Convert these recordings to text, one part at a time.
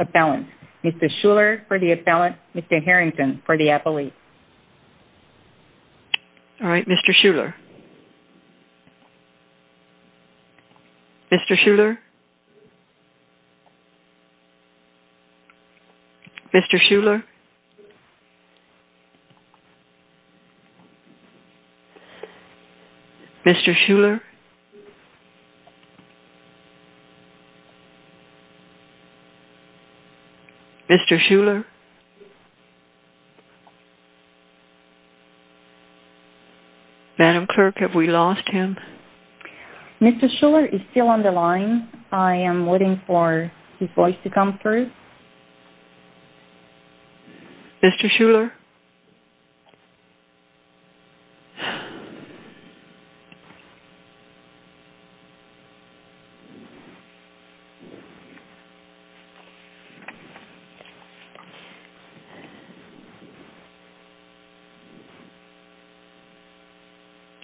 Appellant. Mr. Schuller for the appellant. Mr. Harrington for the appellate. All right, Mr. Schuller. Mr. Schuller? Mr. Schuller? Mr. Schuller? Mr. Schuller? Madam Clerk, have we lost him? Mr. Schuller is still on the line. I am waiting for his voice to come through. Mr. Schuller?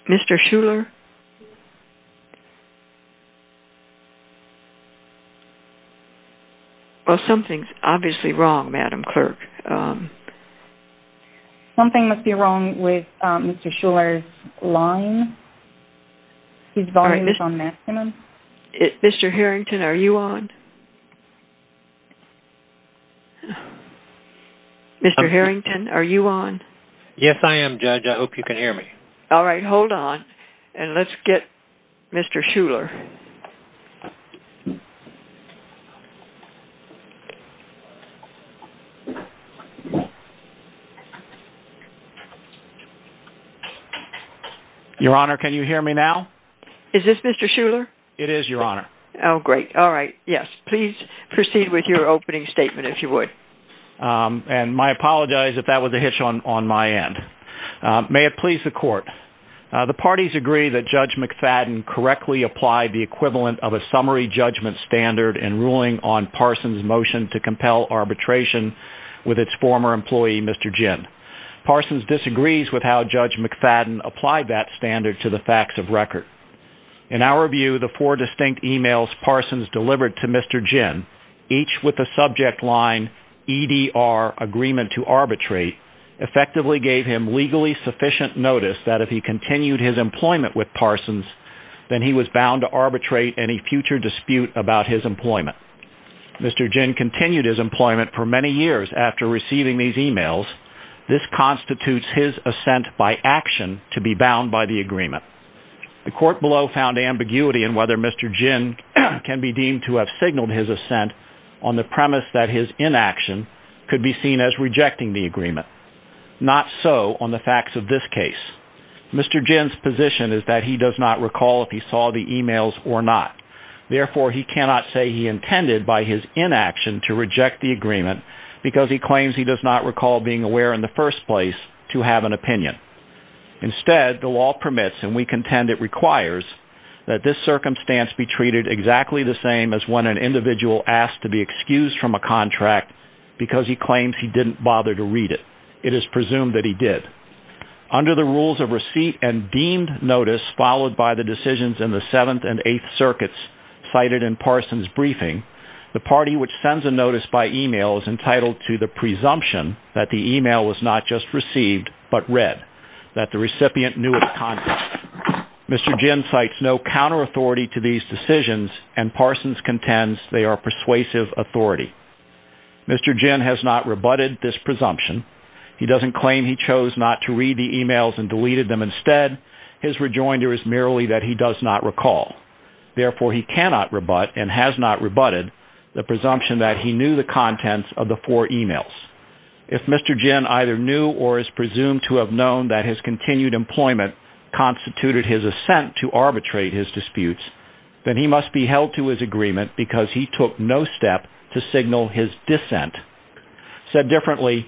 Mr. Schuller? Mr. Schuller? Something must be wrong with Mr. Schuller's line. His volume is on maximum. Mr. Harrington, are you on? Mr. Harrington, are you on? Yes, I am, Judge. I hope you can hear me. All right, hold on. And let's get Mr. Schuller. Your Honor, can you hear me now? Is this Mr. Schuller? It is, Your Honor. Oh, great. All right. Yes. Please proceed with your opening statement, if you would. And my apologies if that was a hitch on my end. May it please the Court. The parties agree that Judge McFadden correctly applied the equivalent of a summary judgment standard in ruling on Parsons' motion to compel arbitration with its former employee, Mr. Ginn. Parsons disagrees with how Judge McFadden applied that standard to the facts of record. In our view, the four distinct emails Parsons delivered to Mr. Ginn, each with the subject line, EDR, Agreement to Arbitrate, effectively gave him legally sufficient notice that if he continued his employment with Parsons, then he was bound to arbitrate any future dispute about his employment. Mr. Ginn continued his employment for many years after receiving these emails. This constitutes his assent by action to be bound by the agreement. The Court below found ambiguity in whether Mr. Ginn can be deemed to have signaled his assent on the premise that his inaction could be seen as rejecting the agreement. Not so on the facts of this case. Mr. Ginn's position is that he does not recall if he saw the emails or not. Therefore, he cannot say he intended by his inaction to reject the agreement because he claims he does not recall being aware in the first place to have an opinion. Instead, the law permits, and we contend it requires, that this circumstance be treated exactly the same as when an individual asked to be excused from a contract because he claims he didn't bother to read it. It is presumed that he did. Under the rules of receipt and deemed notice, followed by the decisions in the Seventh and Eighth Circuits cited in Parsons' briefing, the party which sends a notice by email is entitled to the presumption that the email was not just received but read, that the recipient knew its content. Mr. Ginn cites no counter-authority to these decisions, and Parsons contends they are persuasive authority. Mr. Ginn has not rebutted this presumption. He doesn't claim he chose not to read the emails and deleted them instead. His rejoinder is merely that he does not recall. Therefore, he cannot rebut, and has not rebutted, the presumption that he knew the contents of the four emails. If Mr. Ginn either knew or is presumed to have known that his continued employment constituted his assent to arbitrate his disputes, then he must be held to his agreement because he took no step to signal his dissent. Said differently,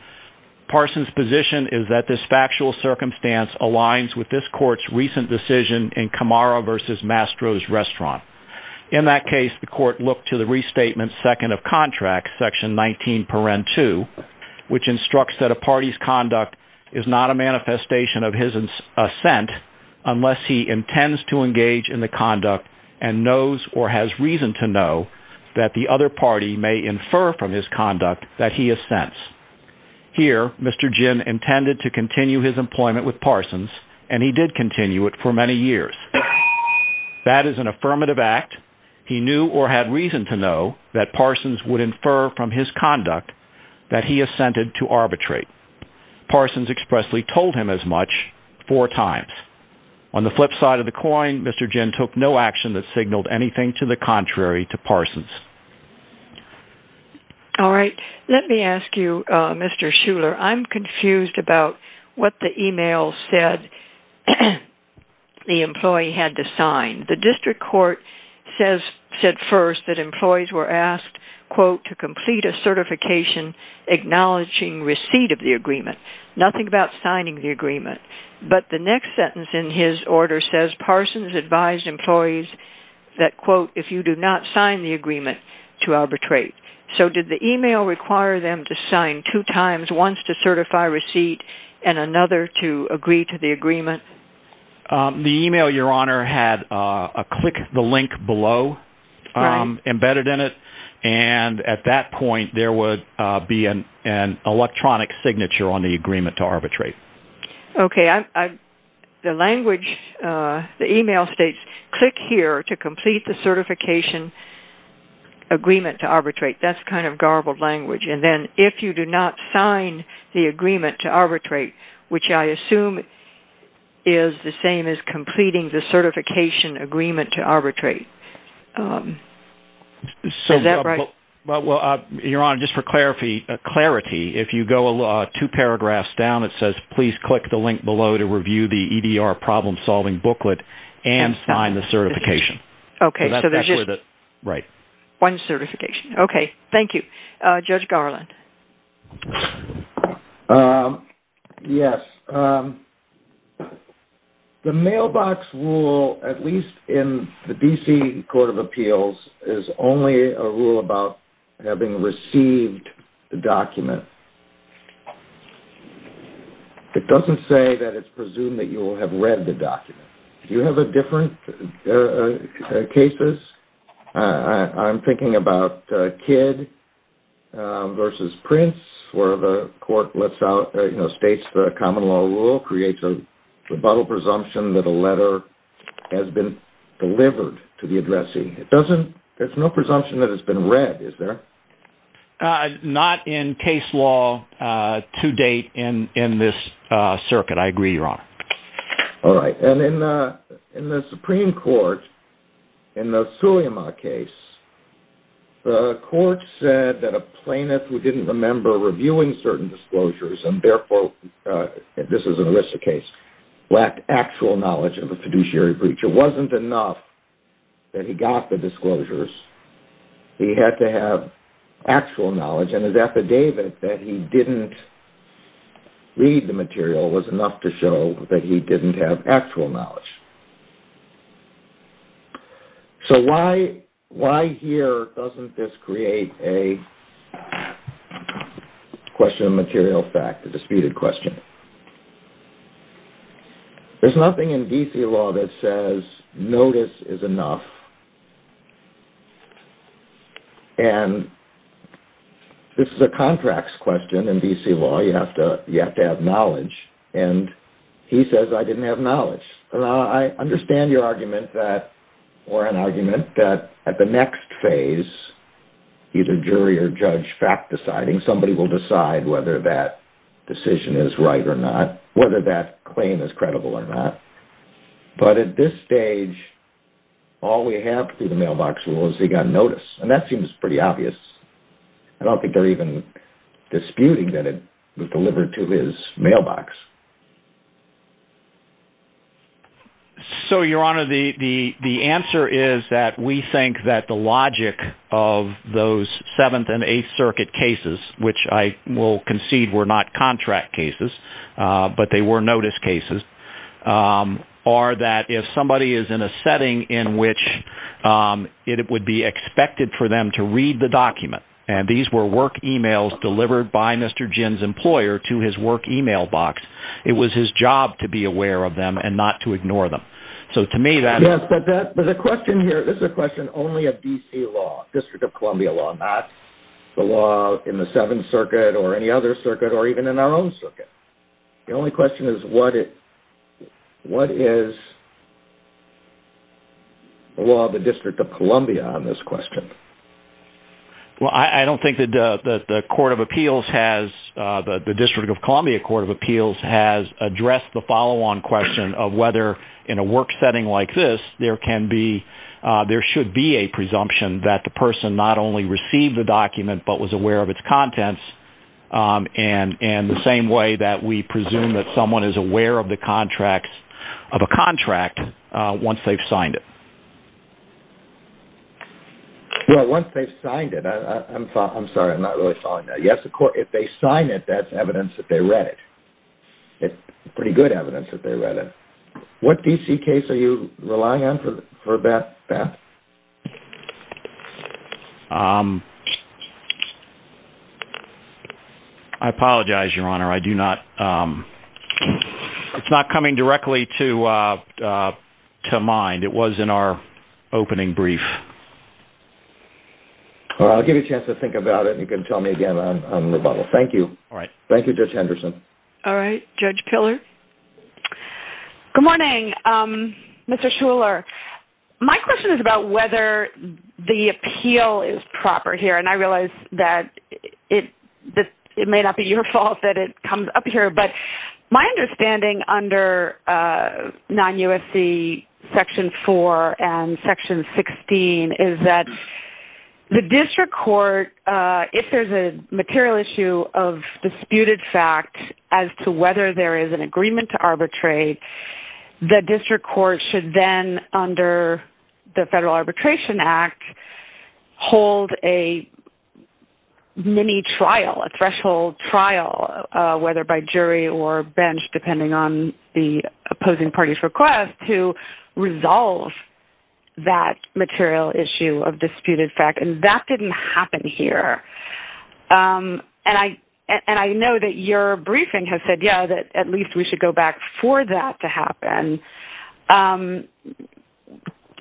Parsons' position is that this factual circumstance aligns with this Court's recent decision in Camaro v. Mastro's Restaurant. In that case, the Court looked to the restatement second of contract, section 19 paren 2, which instructs that a party's conduct is not a manifestation of his assent unless he intends to engage in the conduct and knows or has reason to know that the other party may infer from his conduct that he assents. Here, Mr. Ginn intended to continue his employment with Parsons, and he did continue it for many years. That is an affirmative act. He knew or had reason to know that Parsons would infer from his conduct that he assented to arbitrate. Parsons expressly told him as much four times. On the flip side of the coin, Mr. Ginn took no action that signaled anything to the contrary to Parsons. All right. Let me ask you, Mr. Shuler. I'm confused about what the email said the employee had to sign. The district court said first that employees were asked, quote, to complete a certification acknowledging receipt of the agreement. Nothing about signing the agreement. But the next sentence in his order says, quote, if you do not sign the agreement to arbitrate. So did the email require them to sign two times, once to certify receipt and another to agree to the agreement? The email, Your Honor, had a click the link below embedded in it, and at that point there would be an electronic signature on the agreement to arbitrate. Okay. The language, the email states, click here to complete the certification agreement to arbitrate. That's kind of garbled language. And then if you do not sign the agreement to arbitrate, which I assume is the same as completing the certification agreement to arbitrate. Is that right? Well, Your Honor, just for clarity, if you go two paragraphs down, it says please click the link below to review the EDR problem-solving booklet and sign the certification. Okay. Right. One certification. Okay. Thank you. Judge Garland. Yes. The mailbox rule, at least in the D.C. Court of Appeals, is only a rule about having received the document. It doesn't say that it's presumed that you will have read the document. Do you have a different case? I'm thinking about Kidd v. Prince, where the court states the common law rule, creates a rebuttal presumption that a letter has been delivered to the addressee. There's no presumption that it's been read, is there? Not in case law to date in this circuit. I agree, Your Honor. All right. And in the Supreme Court, in the Suleyman case, the court said that a plaintiff who didn't remember reviewing certain disclosures and, therefore, this is an ERISA case, lacked actual knowledge of a fiduciary breach. It wasn't enough that he got the disclosures. He had to have actual knowledge, and his affidavit that he didn't read the material was enough to show that he didn't have actual knowledge. So why here doesn't this create a question of material fact, a disputed question? There's nothing in D.C. law that says notice is enough. And this is a contracts question in D.C. law. You have to have knowledge. And he says, I didn't have knowledge. I understand your argument, or an argument, that at the next phase, either jury or judge fact deciding, somebody will decide whether that decision is right or not, whether that claim is credible or not. But at this stage, all we have through the mailbox rule is he got notice. And that seems pretty obvious. I don't think they're even disputing that it was delivered to his mailbox. So, Your Honor, the answer is that we think that the logic of those Seventh and Eighth Circuit cases, which I will concede were not contract cases, but they were notice cases, are that if somebody is in a setting in which it would be expected for them to read the document, and these were work e-mails delivered by Mr. Jinn's employer to his work e-mailbox, it was his job to be aware of them and not to ignore them. Yes, but the question here, this is a question only of D.C. law, District of Columbia law, not the law in the Seventh Circuit or any other circuit or even in our own circuit. The only question is what is the law of the District of Columbia on this question? Well, I don't think that the District of Columbia Court of Appeals has addressed the follow-on question of whether in a work setting like this there should be a presumption that the person not only received the document but was aware of its contents in the same way that we presume that someone is aware of a contract once they've signed it. Well, once they've signed it, I'm sorry, I'm not really following that. Yes, of course, if they sign it, that's evidence that they read it, pretty good evidence that they read it. What D.C. case are you relying on for that, Beth? I apologize, Your Honor, I do not, it's not coming directly to mind. It was in our opening brief. Well, I'll give you a chance to think about it and you can tell me again on rebuttal. Thank you. All right. Thank you, Judge Henderson. All right, Judge Piller. Good morning, Mr. Shuler. My question is about whether the appeal is proper here, and I realize that it may not be your fault that it comes up here, but my understanding under non-USC Section 4 and Section 16 is that the district court, if there's a material issue of disputed fact as to whether there is an agreement to arbitrate, the district court should then, under the Federal Arbitration Act, hold a mini-trial, a threshold trial, whether by jury or bench, depending on the opposing party's request, to resolve that material issue of disputed fact, and that didn't happen here. And I know that your briefing has said, yeah, that at least we should go back for that to happen.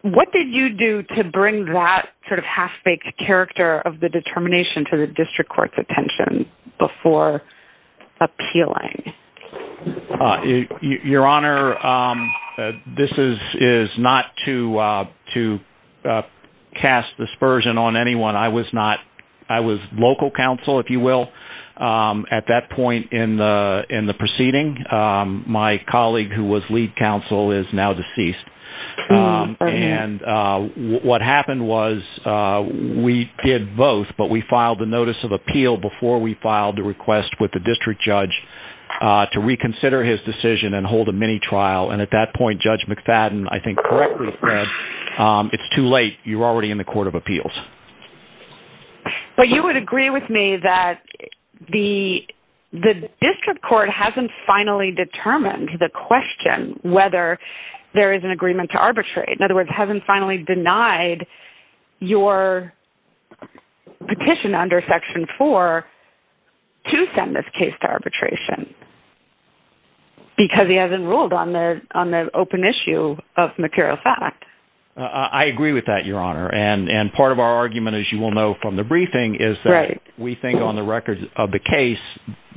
What did you do to bring that sort of half-baked character of the determination to the district court's attention before appealing? Your Honor, this is not to cast dispersion on anyone. I was local counsel, if you will, at that point in the proceeding. My colleague who was lead counsel is now deceased, and what happened was we did both, but we filed the notice of appeal before we filed the request with the district judge to reconsider his decision and hold a mini-trial, and at that point, Judge McFadden, I think, correctly said, it's too late. You're already in the court of appeals. But you would agree with me that the district court hasn't finally determined the question whether there is an agreement to arbitrate. In other words, hasn't finally denied your petition under Section 4 to send this case to arbitration, because he hasn't ruled on the open issue of material fact. I agree with that, Your Honor. And part of our argument, as you will know from the briefing, is that we think on the record of the case,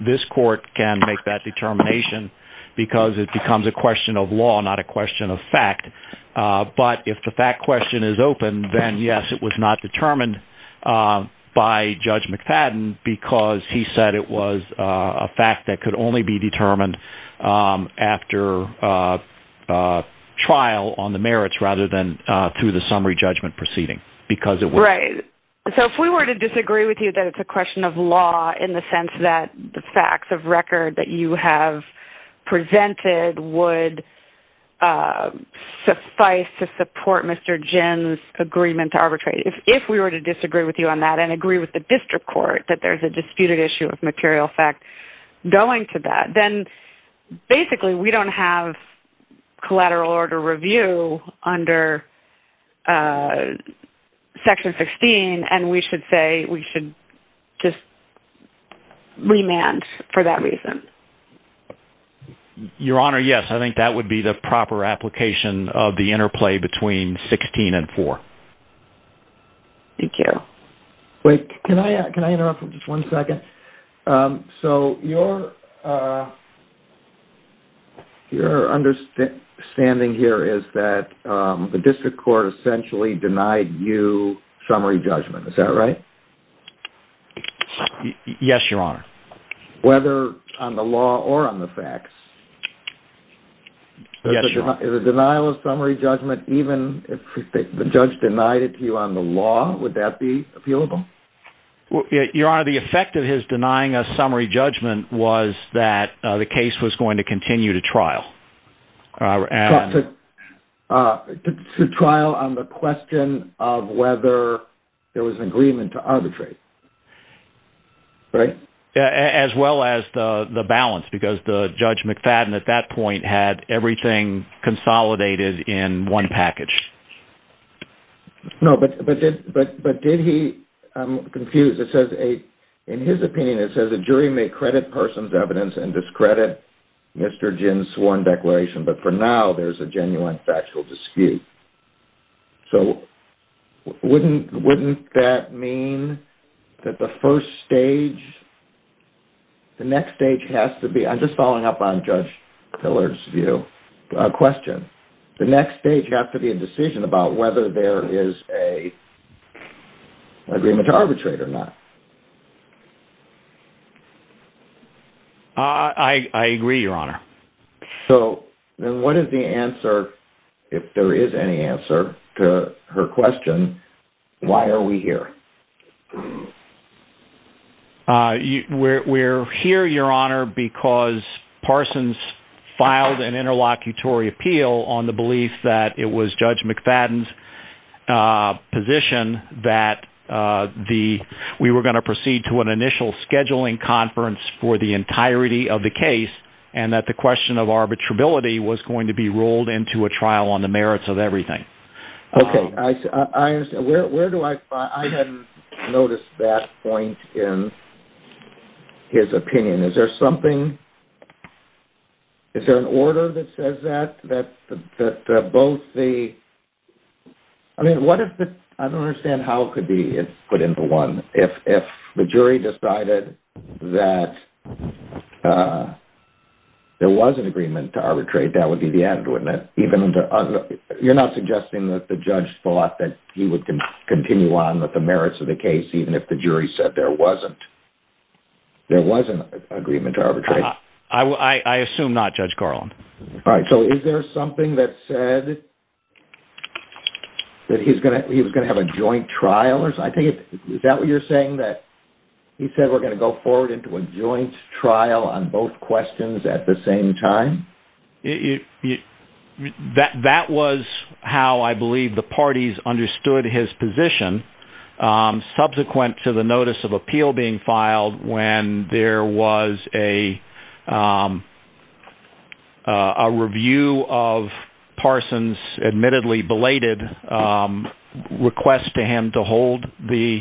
this court can make that determination because it becomes a question of law, not a question of fact. But if the fact question is open, then yes, it was not determined by Judge McFadden because he said it was a fact that could only be determined after trial on the merits, rather than through the summary judgment proceeding. Right. So if we were to disagree with you that it's a question of law in the sense that the facts of record that you have presented would suffice to support Mr. Ginn's agreement to arbitrate, if we were to disagree with you on that and agree with the district court that there's a disputed issue of material fact going to that, then basically we don't have collateral order review under Section 16, and we should say we should just remand for that reason. Your Honor, yes, I think that would be the proper application of the interplay between 16 and 4. Thank you. Wait, can I interrupt for just one second? So your understanding here is that the district court essentially denied you summary judgment, is that right? Yes, Your Honor. Whether on the law or on the facts? Yes, Your Honor. Is a denial of summary judgment, even if the judge denied it to you on the law, would that be appealable? Your Honor, the effect of his denying a summary judgment was that the case was going to continue to trial. To trial on the question of whether there was an agreement to arbitrate, right? As well as the balance, because Judge McFadden at that point had everything consolidated in one package. No, but did he, I'm confused. It says in his opinion, it says a jury may credit persons' evidence and discredit Mr. Ginn's sworn declaration, but for now there's a genuine factual dispute. So wouldn't that mean that the first stage, the next stage has to be, I'm just following up on Judge Pillar's view, question, the next stage has to be a decision about whether there is an agreement to arbitrate or not. I agree, Your Honor. So then what is the answer, if there is any answer to her question, why are we here? We're here, Your Honor, because Parsons filed an interlocutory appeal on the belief that it was Judge McFadden's position that we were going to proceed to an initial scheduling conference for the entirety of the case and that the question of arbitrability was going to be rolled into a trial on the merits of everything. Okay, I understand. Where do I find, I hadn't noticed that point in his opinion. Is there something, is there an order that says that, that both the, I mean, what if the, I don't understand how it could be put into one, if the jury decided that there was an agreement to arbitrate, that would be the end, wouldn't it? Even, you're not suggesting that the judge thought that he would continue on with the merits of the case even if the jury said there wasn't, there was an agreement to arbitrate? I assume not, Judge Carlin. All right, so is there something that said that he was going to have a joint trial? Is that what you're saying, that he said we're going to go forward into a joint trial on both questions at the same time? That was how I believe the parties understood his position subsequent to the notice of appeal being filed when there was a review of Parsons' admittedly belated request to him to hold the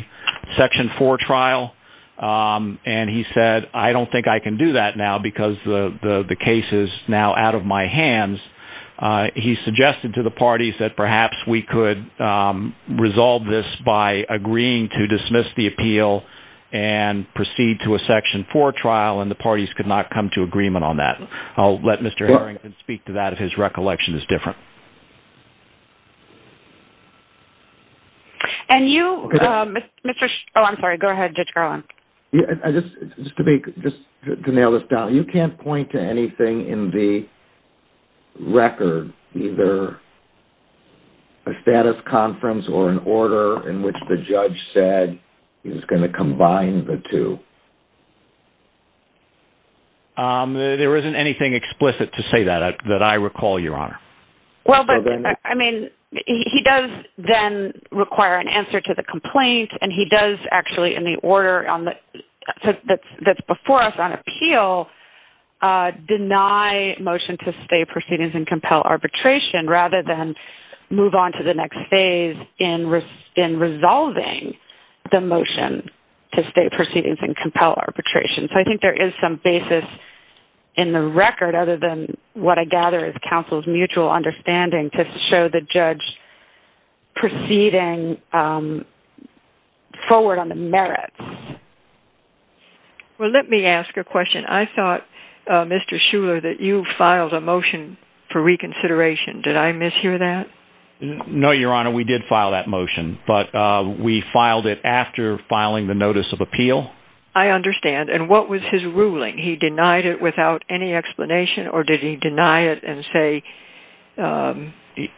Section 4 trial. And he said, I don't think I can do that now because the case is now out of my hands. He suggested to the parties that perhaps we could resolve this by agreeing to dismiss the appeal and proceed to a Section 4 trial, and the parties could not come to agreement on that. I'll let Mr. Harrington speak to that if his recollection is different. And you, Mr., oh, I'm sorry, go ahead, Judge Carlin. Just to be, just to nail this down, you can't point to anything in the record, either a status conference or an order in which the judge said he was going to combine the two? There isn't anything explicit to say that, that I recall, Your Honor. Well, but, I mean, he does then require an answer to the complaint, and he does actually in the order that's before us on appeal deny motion to stay proceedings and compel arbitration rather than move on to the next phase in resolving the motion to stay proceedings and compel arbitration. So I think there is some basis in the record other than what I gather is counsel's mutual understanding to show the judge proceeding forward on the merits. Well, let me ask a question. I thought, Mr. Shuler, that you filed a motion for reconsideration. Did I mishear that? No, Your Honor, we did file that motion, but we filed it after filing the notice of appeal. I understand, and what was his ruling? He denied it without any explanation, or did he deny it and say...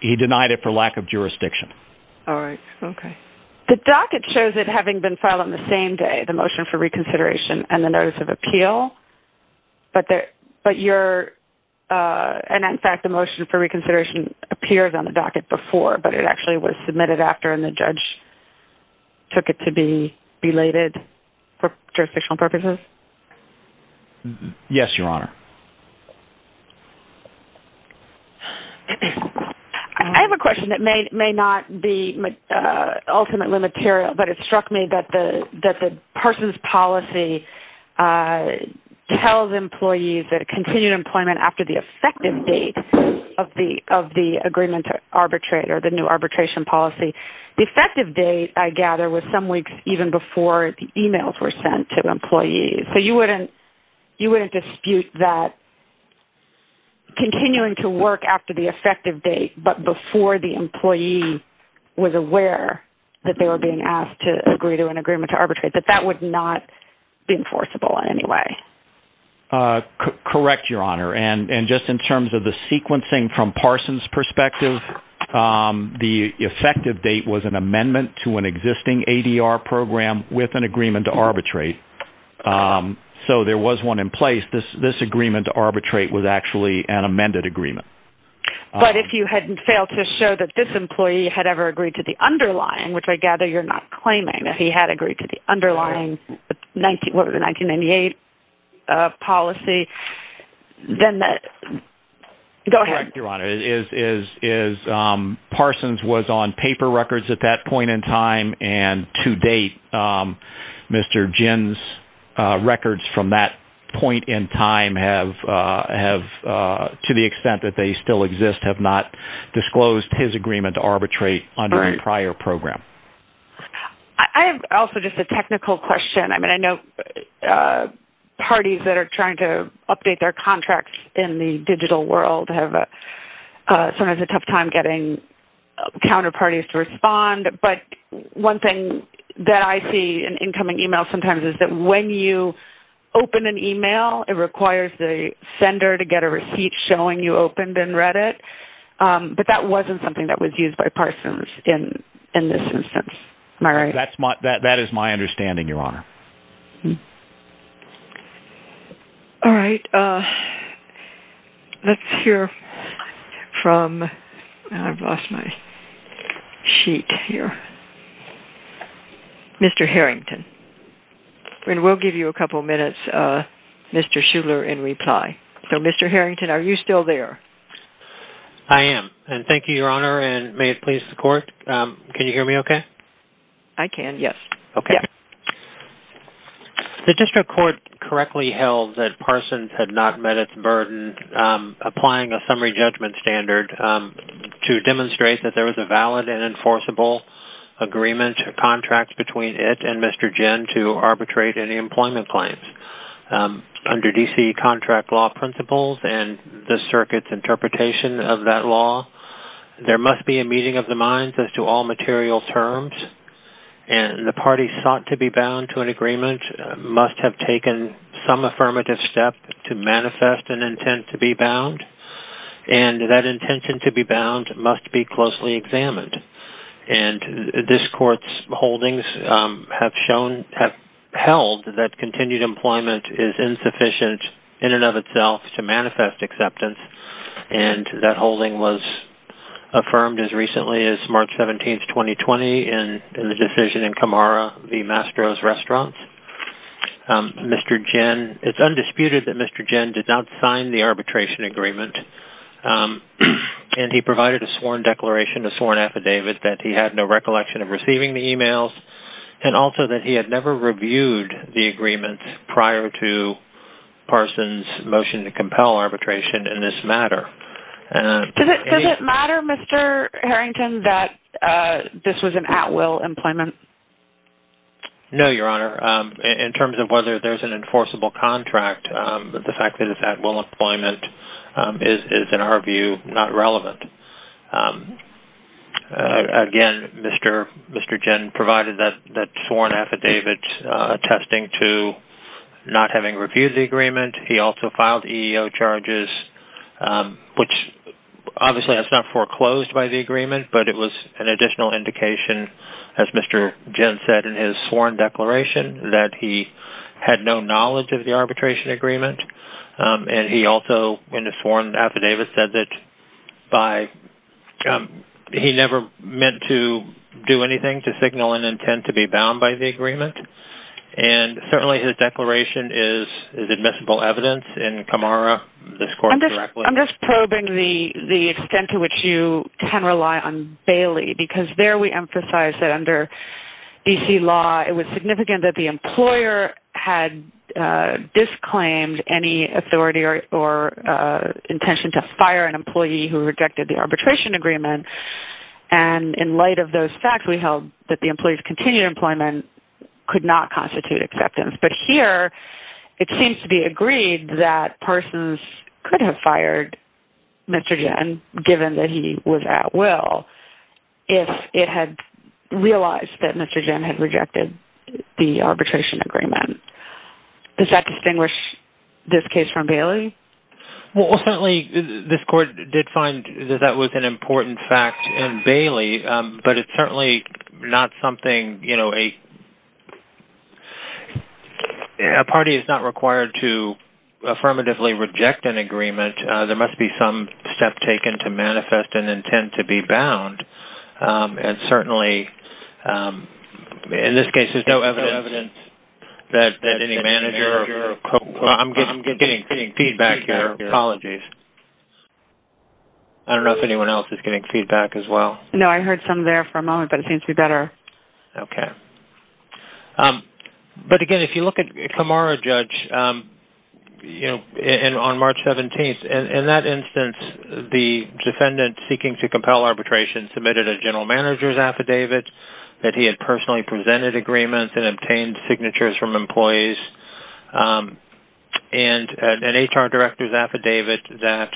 He denied it for lack of jurisdiction. All right, okay. The docket shows it having been filed on the same day, the motion for reconsideration and the notice of appeal, but you're, and in fact the motion for reconsideration appears on the docket before, but it actually was submitted after and the judge took it to be belated for jurisdictional purposes? Yes, Your Honor. I have a question that may not be ultimately material, but it struck me that the person's policy tells employees that continued employment after the effective date of the agreement to arbitrate, or the new arbitration policy, the effective date, I gather, was some weeks even before the emails were sent to employees. So you wouldn't dispute that continuing to work after the effective date, but before the employee was aware that they were being asked to agree to an agreement to arbitrate, that that would not be enforceable in any way? Correct, Your Honor. And just in terms of the sequencing from Parson's perspective, the effective date was an amendment to an existing ADR program with an agreement to arbitrate. So there was one in place. This agreement to arbitrate was actually an amended agreement. But if you hadn't failed to show that this employee had ever agreed to the underlying, which I gather you're not claiming that he had agreed to the underlying 1998 policy, then that – go ahead. Correct, Your Honor. Parson's was on paper records at that point in time, and to date Mr. Ginn's records from that point in time have, to the extent that they still exist, have not disclosed his agreement to arbitrate under a prior program. I have also just a technical question. I mean, I know parties that are trying to update their contracts in the digital world have sometimes a tough time getting counterparties to respond. But one thing that I see in incoming e-mails sometimes is that when you open an e-mail, it requires the sender to get a receipt showing you opened and read it. But that wasn't something that was used by Parson's in this instance. Am I right? That is my understanding, Your Honor. All right. Let's hear from – I've lost my sheet here. Mr. Harrington. And we'll give you a couple minutes, Mr. Shuler, in reply. So, Mr. Harrington, are you still there? I am, and thank you, Your Honor, and may it please the Court. Can you hear me okay? I can, yes. Okay. The district court correctly held that Parson's had not met its burden applying a summary judgment standard to demonstrate that there was a valid and enforceable agreement or contract between it and Mr. Ginn to arbitrate any employment claims. Under D.C. contract law principles and the circuit's interpretation of that law, there must be a meeting of the minds as to all material terms, and the parties sought to be bound to an agreement must have taken some affirmative step to manifest an intent to be bound, and that intention to be bound must be closely examined. And this Court's holdings have held that continued employment is insufficient in and of itself to manifest acceptance, and that holding was affirmed as recently as March 17, 2020, in the decision in Camara v. Mastro's Restaurants. It's undisputed that Mr. Ginn did not sign the arbitration agreement, and he provided a sworn declaration, a sworn affidavit, that he had no recollection of receiving the emails and also that he had never reviewed the agreement prior to Parson's motion to compel arbitration in this matter. Does it matter, Mr. Harrington, that this was an at-will employment? No, Your Honor. In terms of whether there's an enforceable contract, the fact that it's at-will employment is, in our view, not relevant. Again, Mr. Ginn provided that sworn affidavit attesting to not having reviewed the agreement. He also filed EEO charges, which obviously is not foreclosed by the agreement, but it was an additional indication, as Mr. Ginn said in his sworn declaration, that he had no knowledge of the arbitration agreement. And he also, in his sworn affidavit, said that he never meant to do anything to signal an intent to be bound by the agreement. And certainly his declaration is admissible evidence in Kamara, this court directly. I'm just probing the extent to which you can rely on Bailey, because there we emphasize that under D.C. law, it was significant that the employer had disclaimed any authority or intention to fire an employee who rejected the arbitration agreement. And in light of those facts, we held that the employee's continued employment could not constitute acceptance. But here it seems to be agreed that Parsons could have fired Mr. Ginn, given that he was at-will, if it had realized that Mr. Ginn had rejected the arbitration agreement. Does that distinguish this case from Bailey? Well, certainly this court did find that that was an important fact in Bailey, but it's certainly not something, you know, a party is not required to affirmatively reject an agreement. There must be some step taken to manifest an intent to be bound. And certainly in this case, there's no evidence that any manager- I'm getting feedback here. Apologies. I don't know if anyone else is getting feedback as well. No, I heard some there for a moment, but it seems to be better. Okay. But again, if you look at Kamara, Judge, on March 17th, in that instance the defendant seeking to compel arbitration submitted a general manager's affidavit that he had personally presented agreements and obtained signatures from employees and an HR director's affidavit that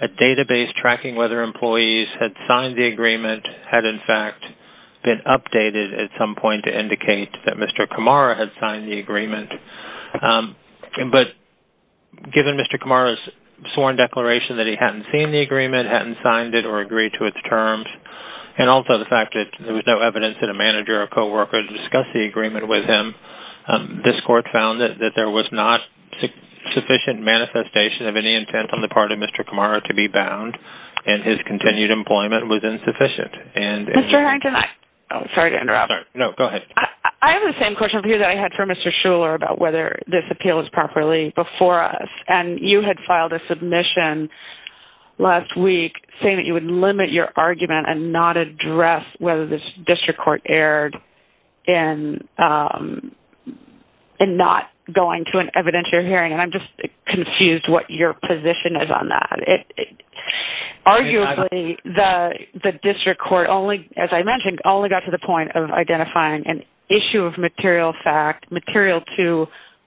a database tracking whether employees had signed the agreement had, in fact, been updated at some point to indicate that Mr. Kamara had signed the agreement. But given Mr. Kamara's sworn declaration that he hadn't seen the agreement, hadn't signed it or agreed to its terms, and also the fact that there was no evidence that a manager or co-worker had discussed the agreement with him, this court found that there was not sufficient manifestation of any intent on the part of Mr. Kamara to be bound, and his continued employment was insufficient. Mr. Harrington, I- Sorry to interrupt. No, go ahead. I have the same question for you that I had for Mr. Shuler about whether this appeal was properly before us, and you had filed a submission last week saying that you would limit your argument and not address whether this district court erred in not going to an evidentiary hearing, and I'm just confused what your position is on that. Arguably, the district court, as I mentioned, only got to the point of identifying an issue of material fact, material to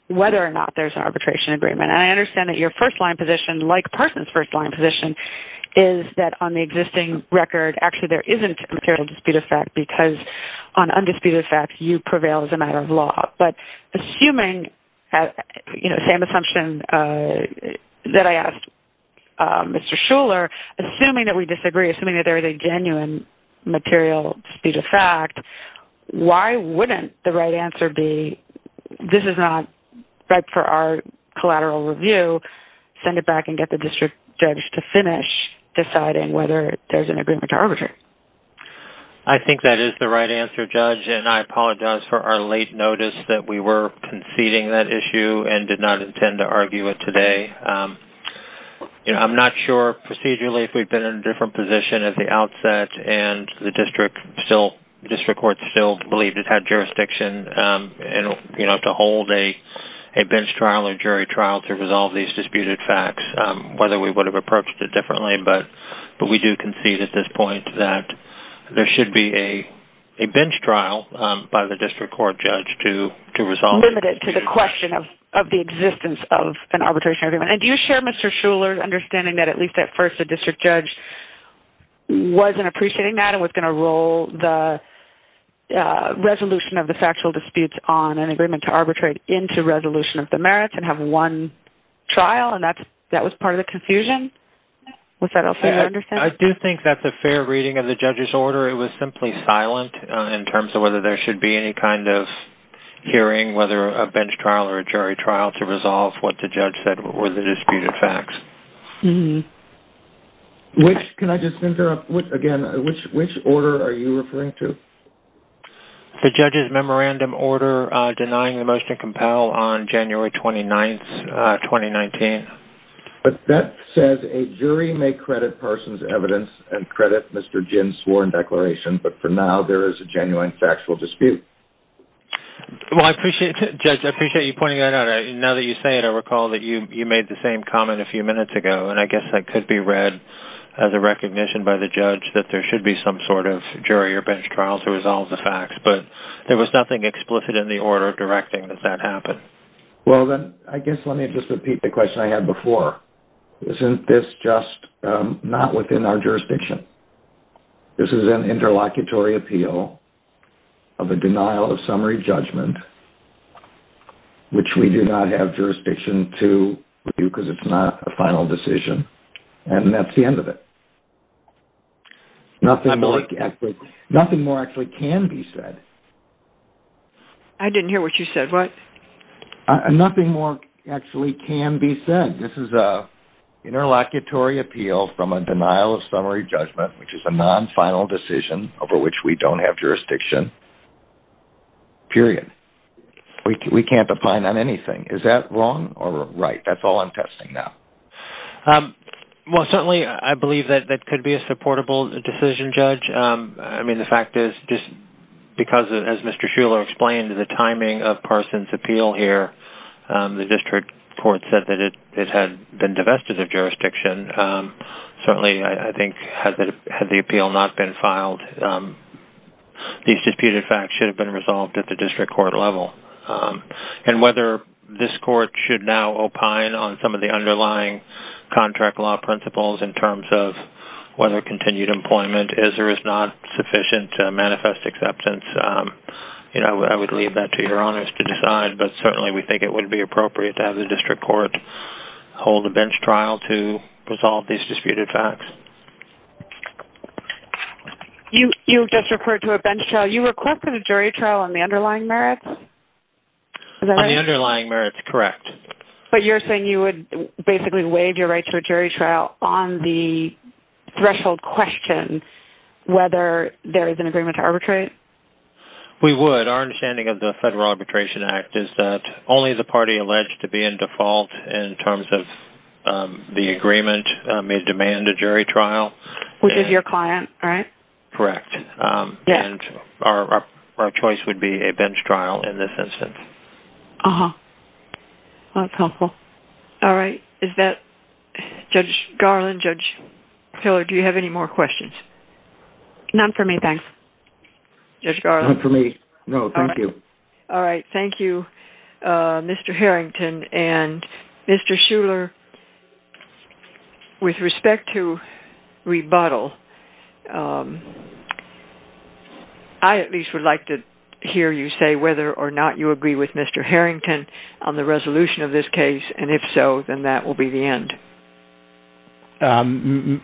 whether or not there's an arbitration agreement, and I understand that your first-line position, like Parson's first-line position, is that on the existing record, actually, there isn't a material dispute of fact because on undisputed facts, you prevail as a matter of law, but assuming, you know, the same assumption that I asked Mr. Shuler, assuming that we disagree, assuming that there is a genuine material dispute of fact, why wouldn't the right answer be, this is not right for our collateral review, send it back and get the district judge to finish deciding whether there's an agreement to arbitrate? I think that is the right answer, Judge, and I apologize for our late notice that we were conceding that issue and did not intend to argue it today. You know, I'm not sure procedurally if we'd been in a different position at the outset and the district court still believed it had jurisdiction, you know, to hold a bench trial or jury trial to resolve these disputed facts, whether we would have approached it differently, but we do concede at this point that there should be a bench trial by the district court judge to resolve it. Limited to the question of the existence of an arbitration agreement. And do you share Mr. Shuler's understanding that at least at first the district judge wasn't appreciating that and was going to roll the resolution of the factual disputes on an agreement to arbitrate into resolution of the merits and have one trial, and that was part of the confusion? Was that also your understanding? I do think that the fair reading of the judge's order, it was simply silent in terms of whether there should be any kind of hearing, whether a bench trial or a jury trial to resolve what the judge said were the disputed facts. Which, can I just interrupt again, which order are you referring to? The judge's memorandum order denying the motion to compel on January 29th, 2019. But that says a jury may credit Parsons' evidence and credit Mr. Ginn's sworn declaration, but for now there is a genuine factual dispute. Well, I appreciate it, Judge. I appreciate you pointing that out. Now that you say it, I recall that you made the same comment a few minutes ago, and I guess that could be read as a recognition by the judge that there should be some sort of jury or bench trial to resolve the facts. But there was nothing explicit in the order directing that that happened. Well, then I guess let me just repeat the question I had before. Isn't this just not within our jurisdiction? This is an interlocutory appeal of a denial of summary judgment, which we do not have jurisdiction to review because it's not a final decision, and that's the end of it. Nothing more actually can be said. I didn't hear what you said. What? Nothing more actually can be said. This is an interlocutory appeal from a denial of summary judgment, which is a non-final decision over which we don't have jurisdiction, period. We can't opine on anything. Is that wrong or right? That's all I'm testing now. Well, certainly I believe that that could be a supportable decision, Judge. I mean, the fact is just because, as Mr. Shuler explained, the timing of Parsons' appeal here, the district court said that it had been divested of jurisdiction, certainly I think had the appeal not been filed, these disputed facts should have been resolved at the district court level. And whether this court should now opine on some of the underlying contract law principles in terms of whether continued employment is or is not sufficient to manifest acceptance, I would leave that to your honors to decide. But certainly we think it would be appropriate to have the district court hold a bench trial to resolve these disputed facts. You just referred to a bench trial. You requested a jury trial on the underlying merits? On the underlying merits, correct. But you're saying you would basically waive your right to a jury trial on the threshold question, whether there is an agreement to arbitrate? We would. But our understanding of the Federal Arbitration Act is that only the party alleged to be in default in terms of the agreement may demand a jury trial. Which is your client, right? Correct. And our choice would be a bench trial in this instance. Uh-huh. Well, that's helpful. All right. Judge Garland, Judge Hiller, do you have any more questions? None for me, thanks. Judge Garland? None for me. No, thank you. All right. Thank you, Mr. Harrington. And Mr. Shuler, with respect to rebuttal, I at least would like to hear you say whether or not you agree with Mr. Harrington on the resolution of this case, and if so, then that will be the end.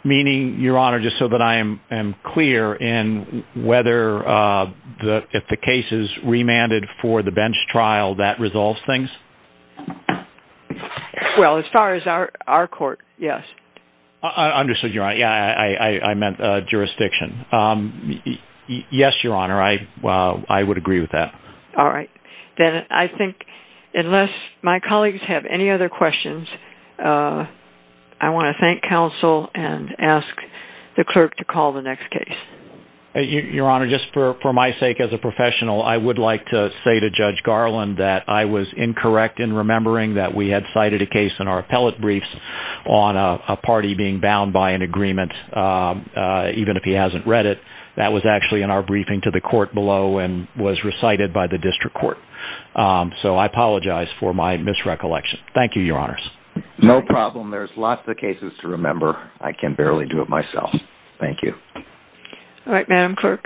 Meaning, Your Honor, just so that I am clear in whether if the case is remanded for the bench trial, that resolves things? Well, as far as our court, yes. Understood, Your Honor. Yeah, I meant jurisdiction. Yes, Your Honor, I would agree with that. All right. Then I think, unless my colleagues have any other questions, I want to thank counsel and ask the clerk to call the next case. Your Honor, just for my sake as a professional, I would like to say to Judge Garland that I was incorrect in remembering that we had cited a case in our appellate briefs on a party being bound by an agreement, even if he hasn't read it. That was actually in our briefing to the court below and was recited by the district court. So I apologize for my misrecollection. Thank you, Your Honors. No problem. There's lots of cases to remember. I can barely do it myself. Thank you. All right, Madam Clerk.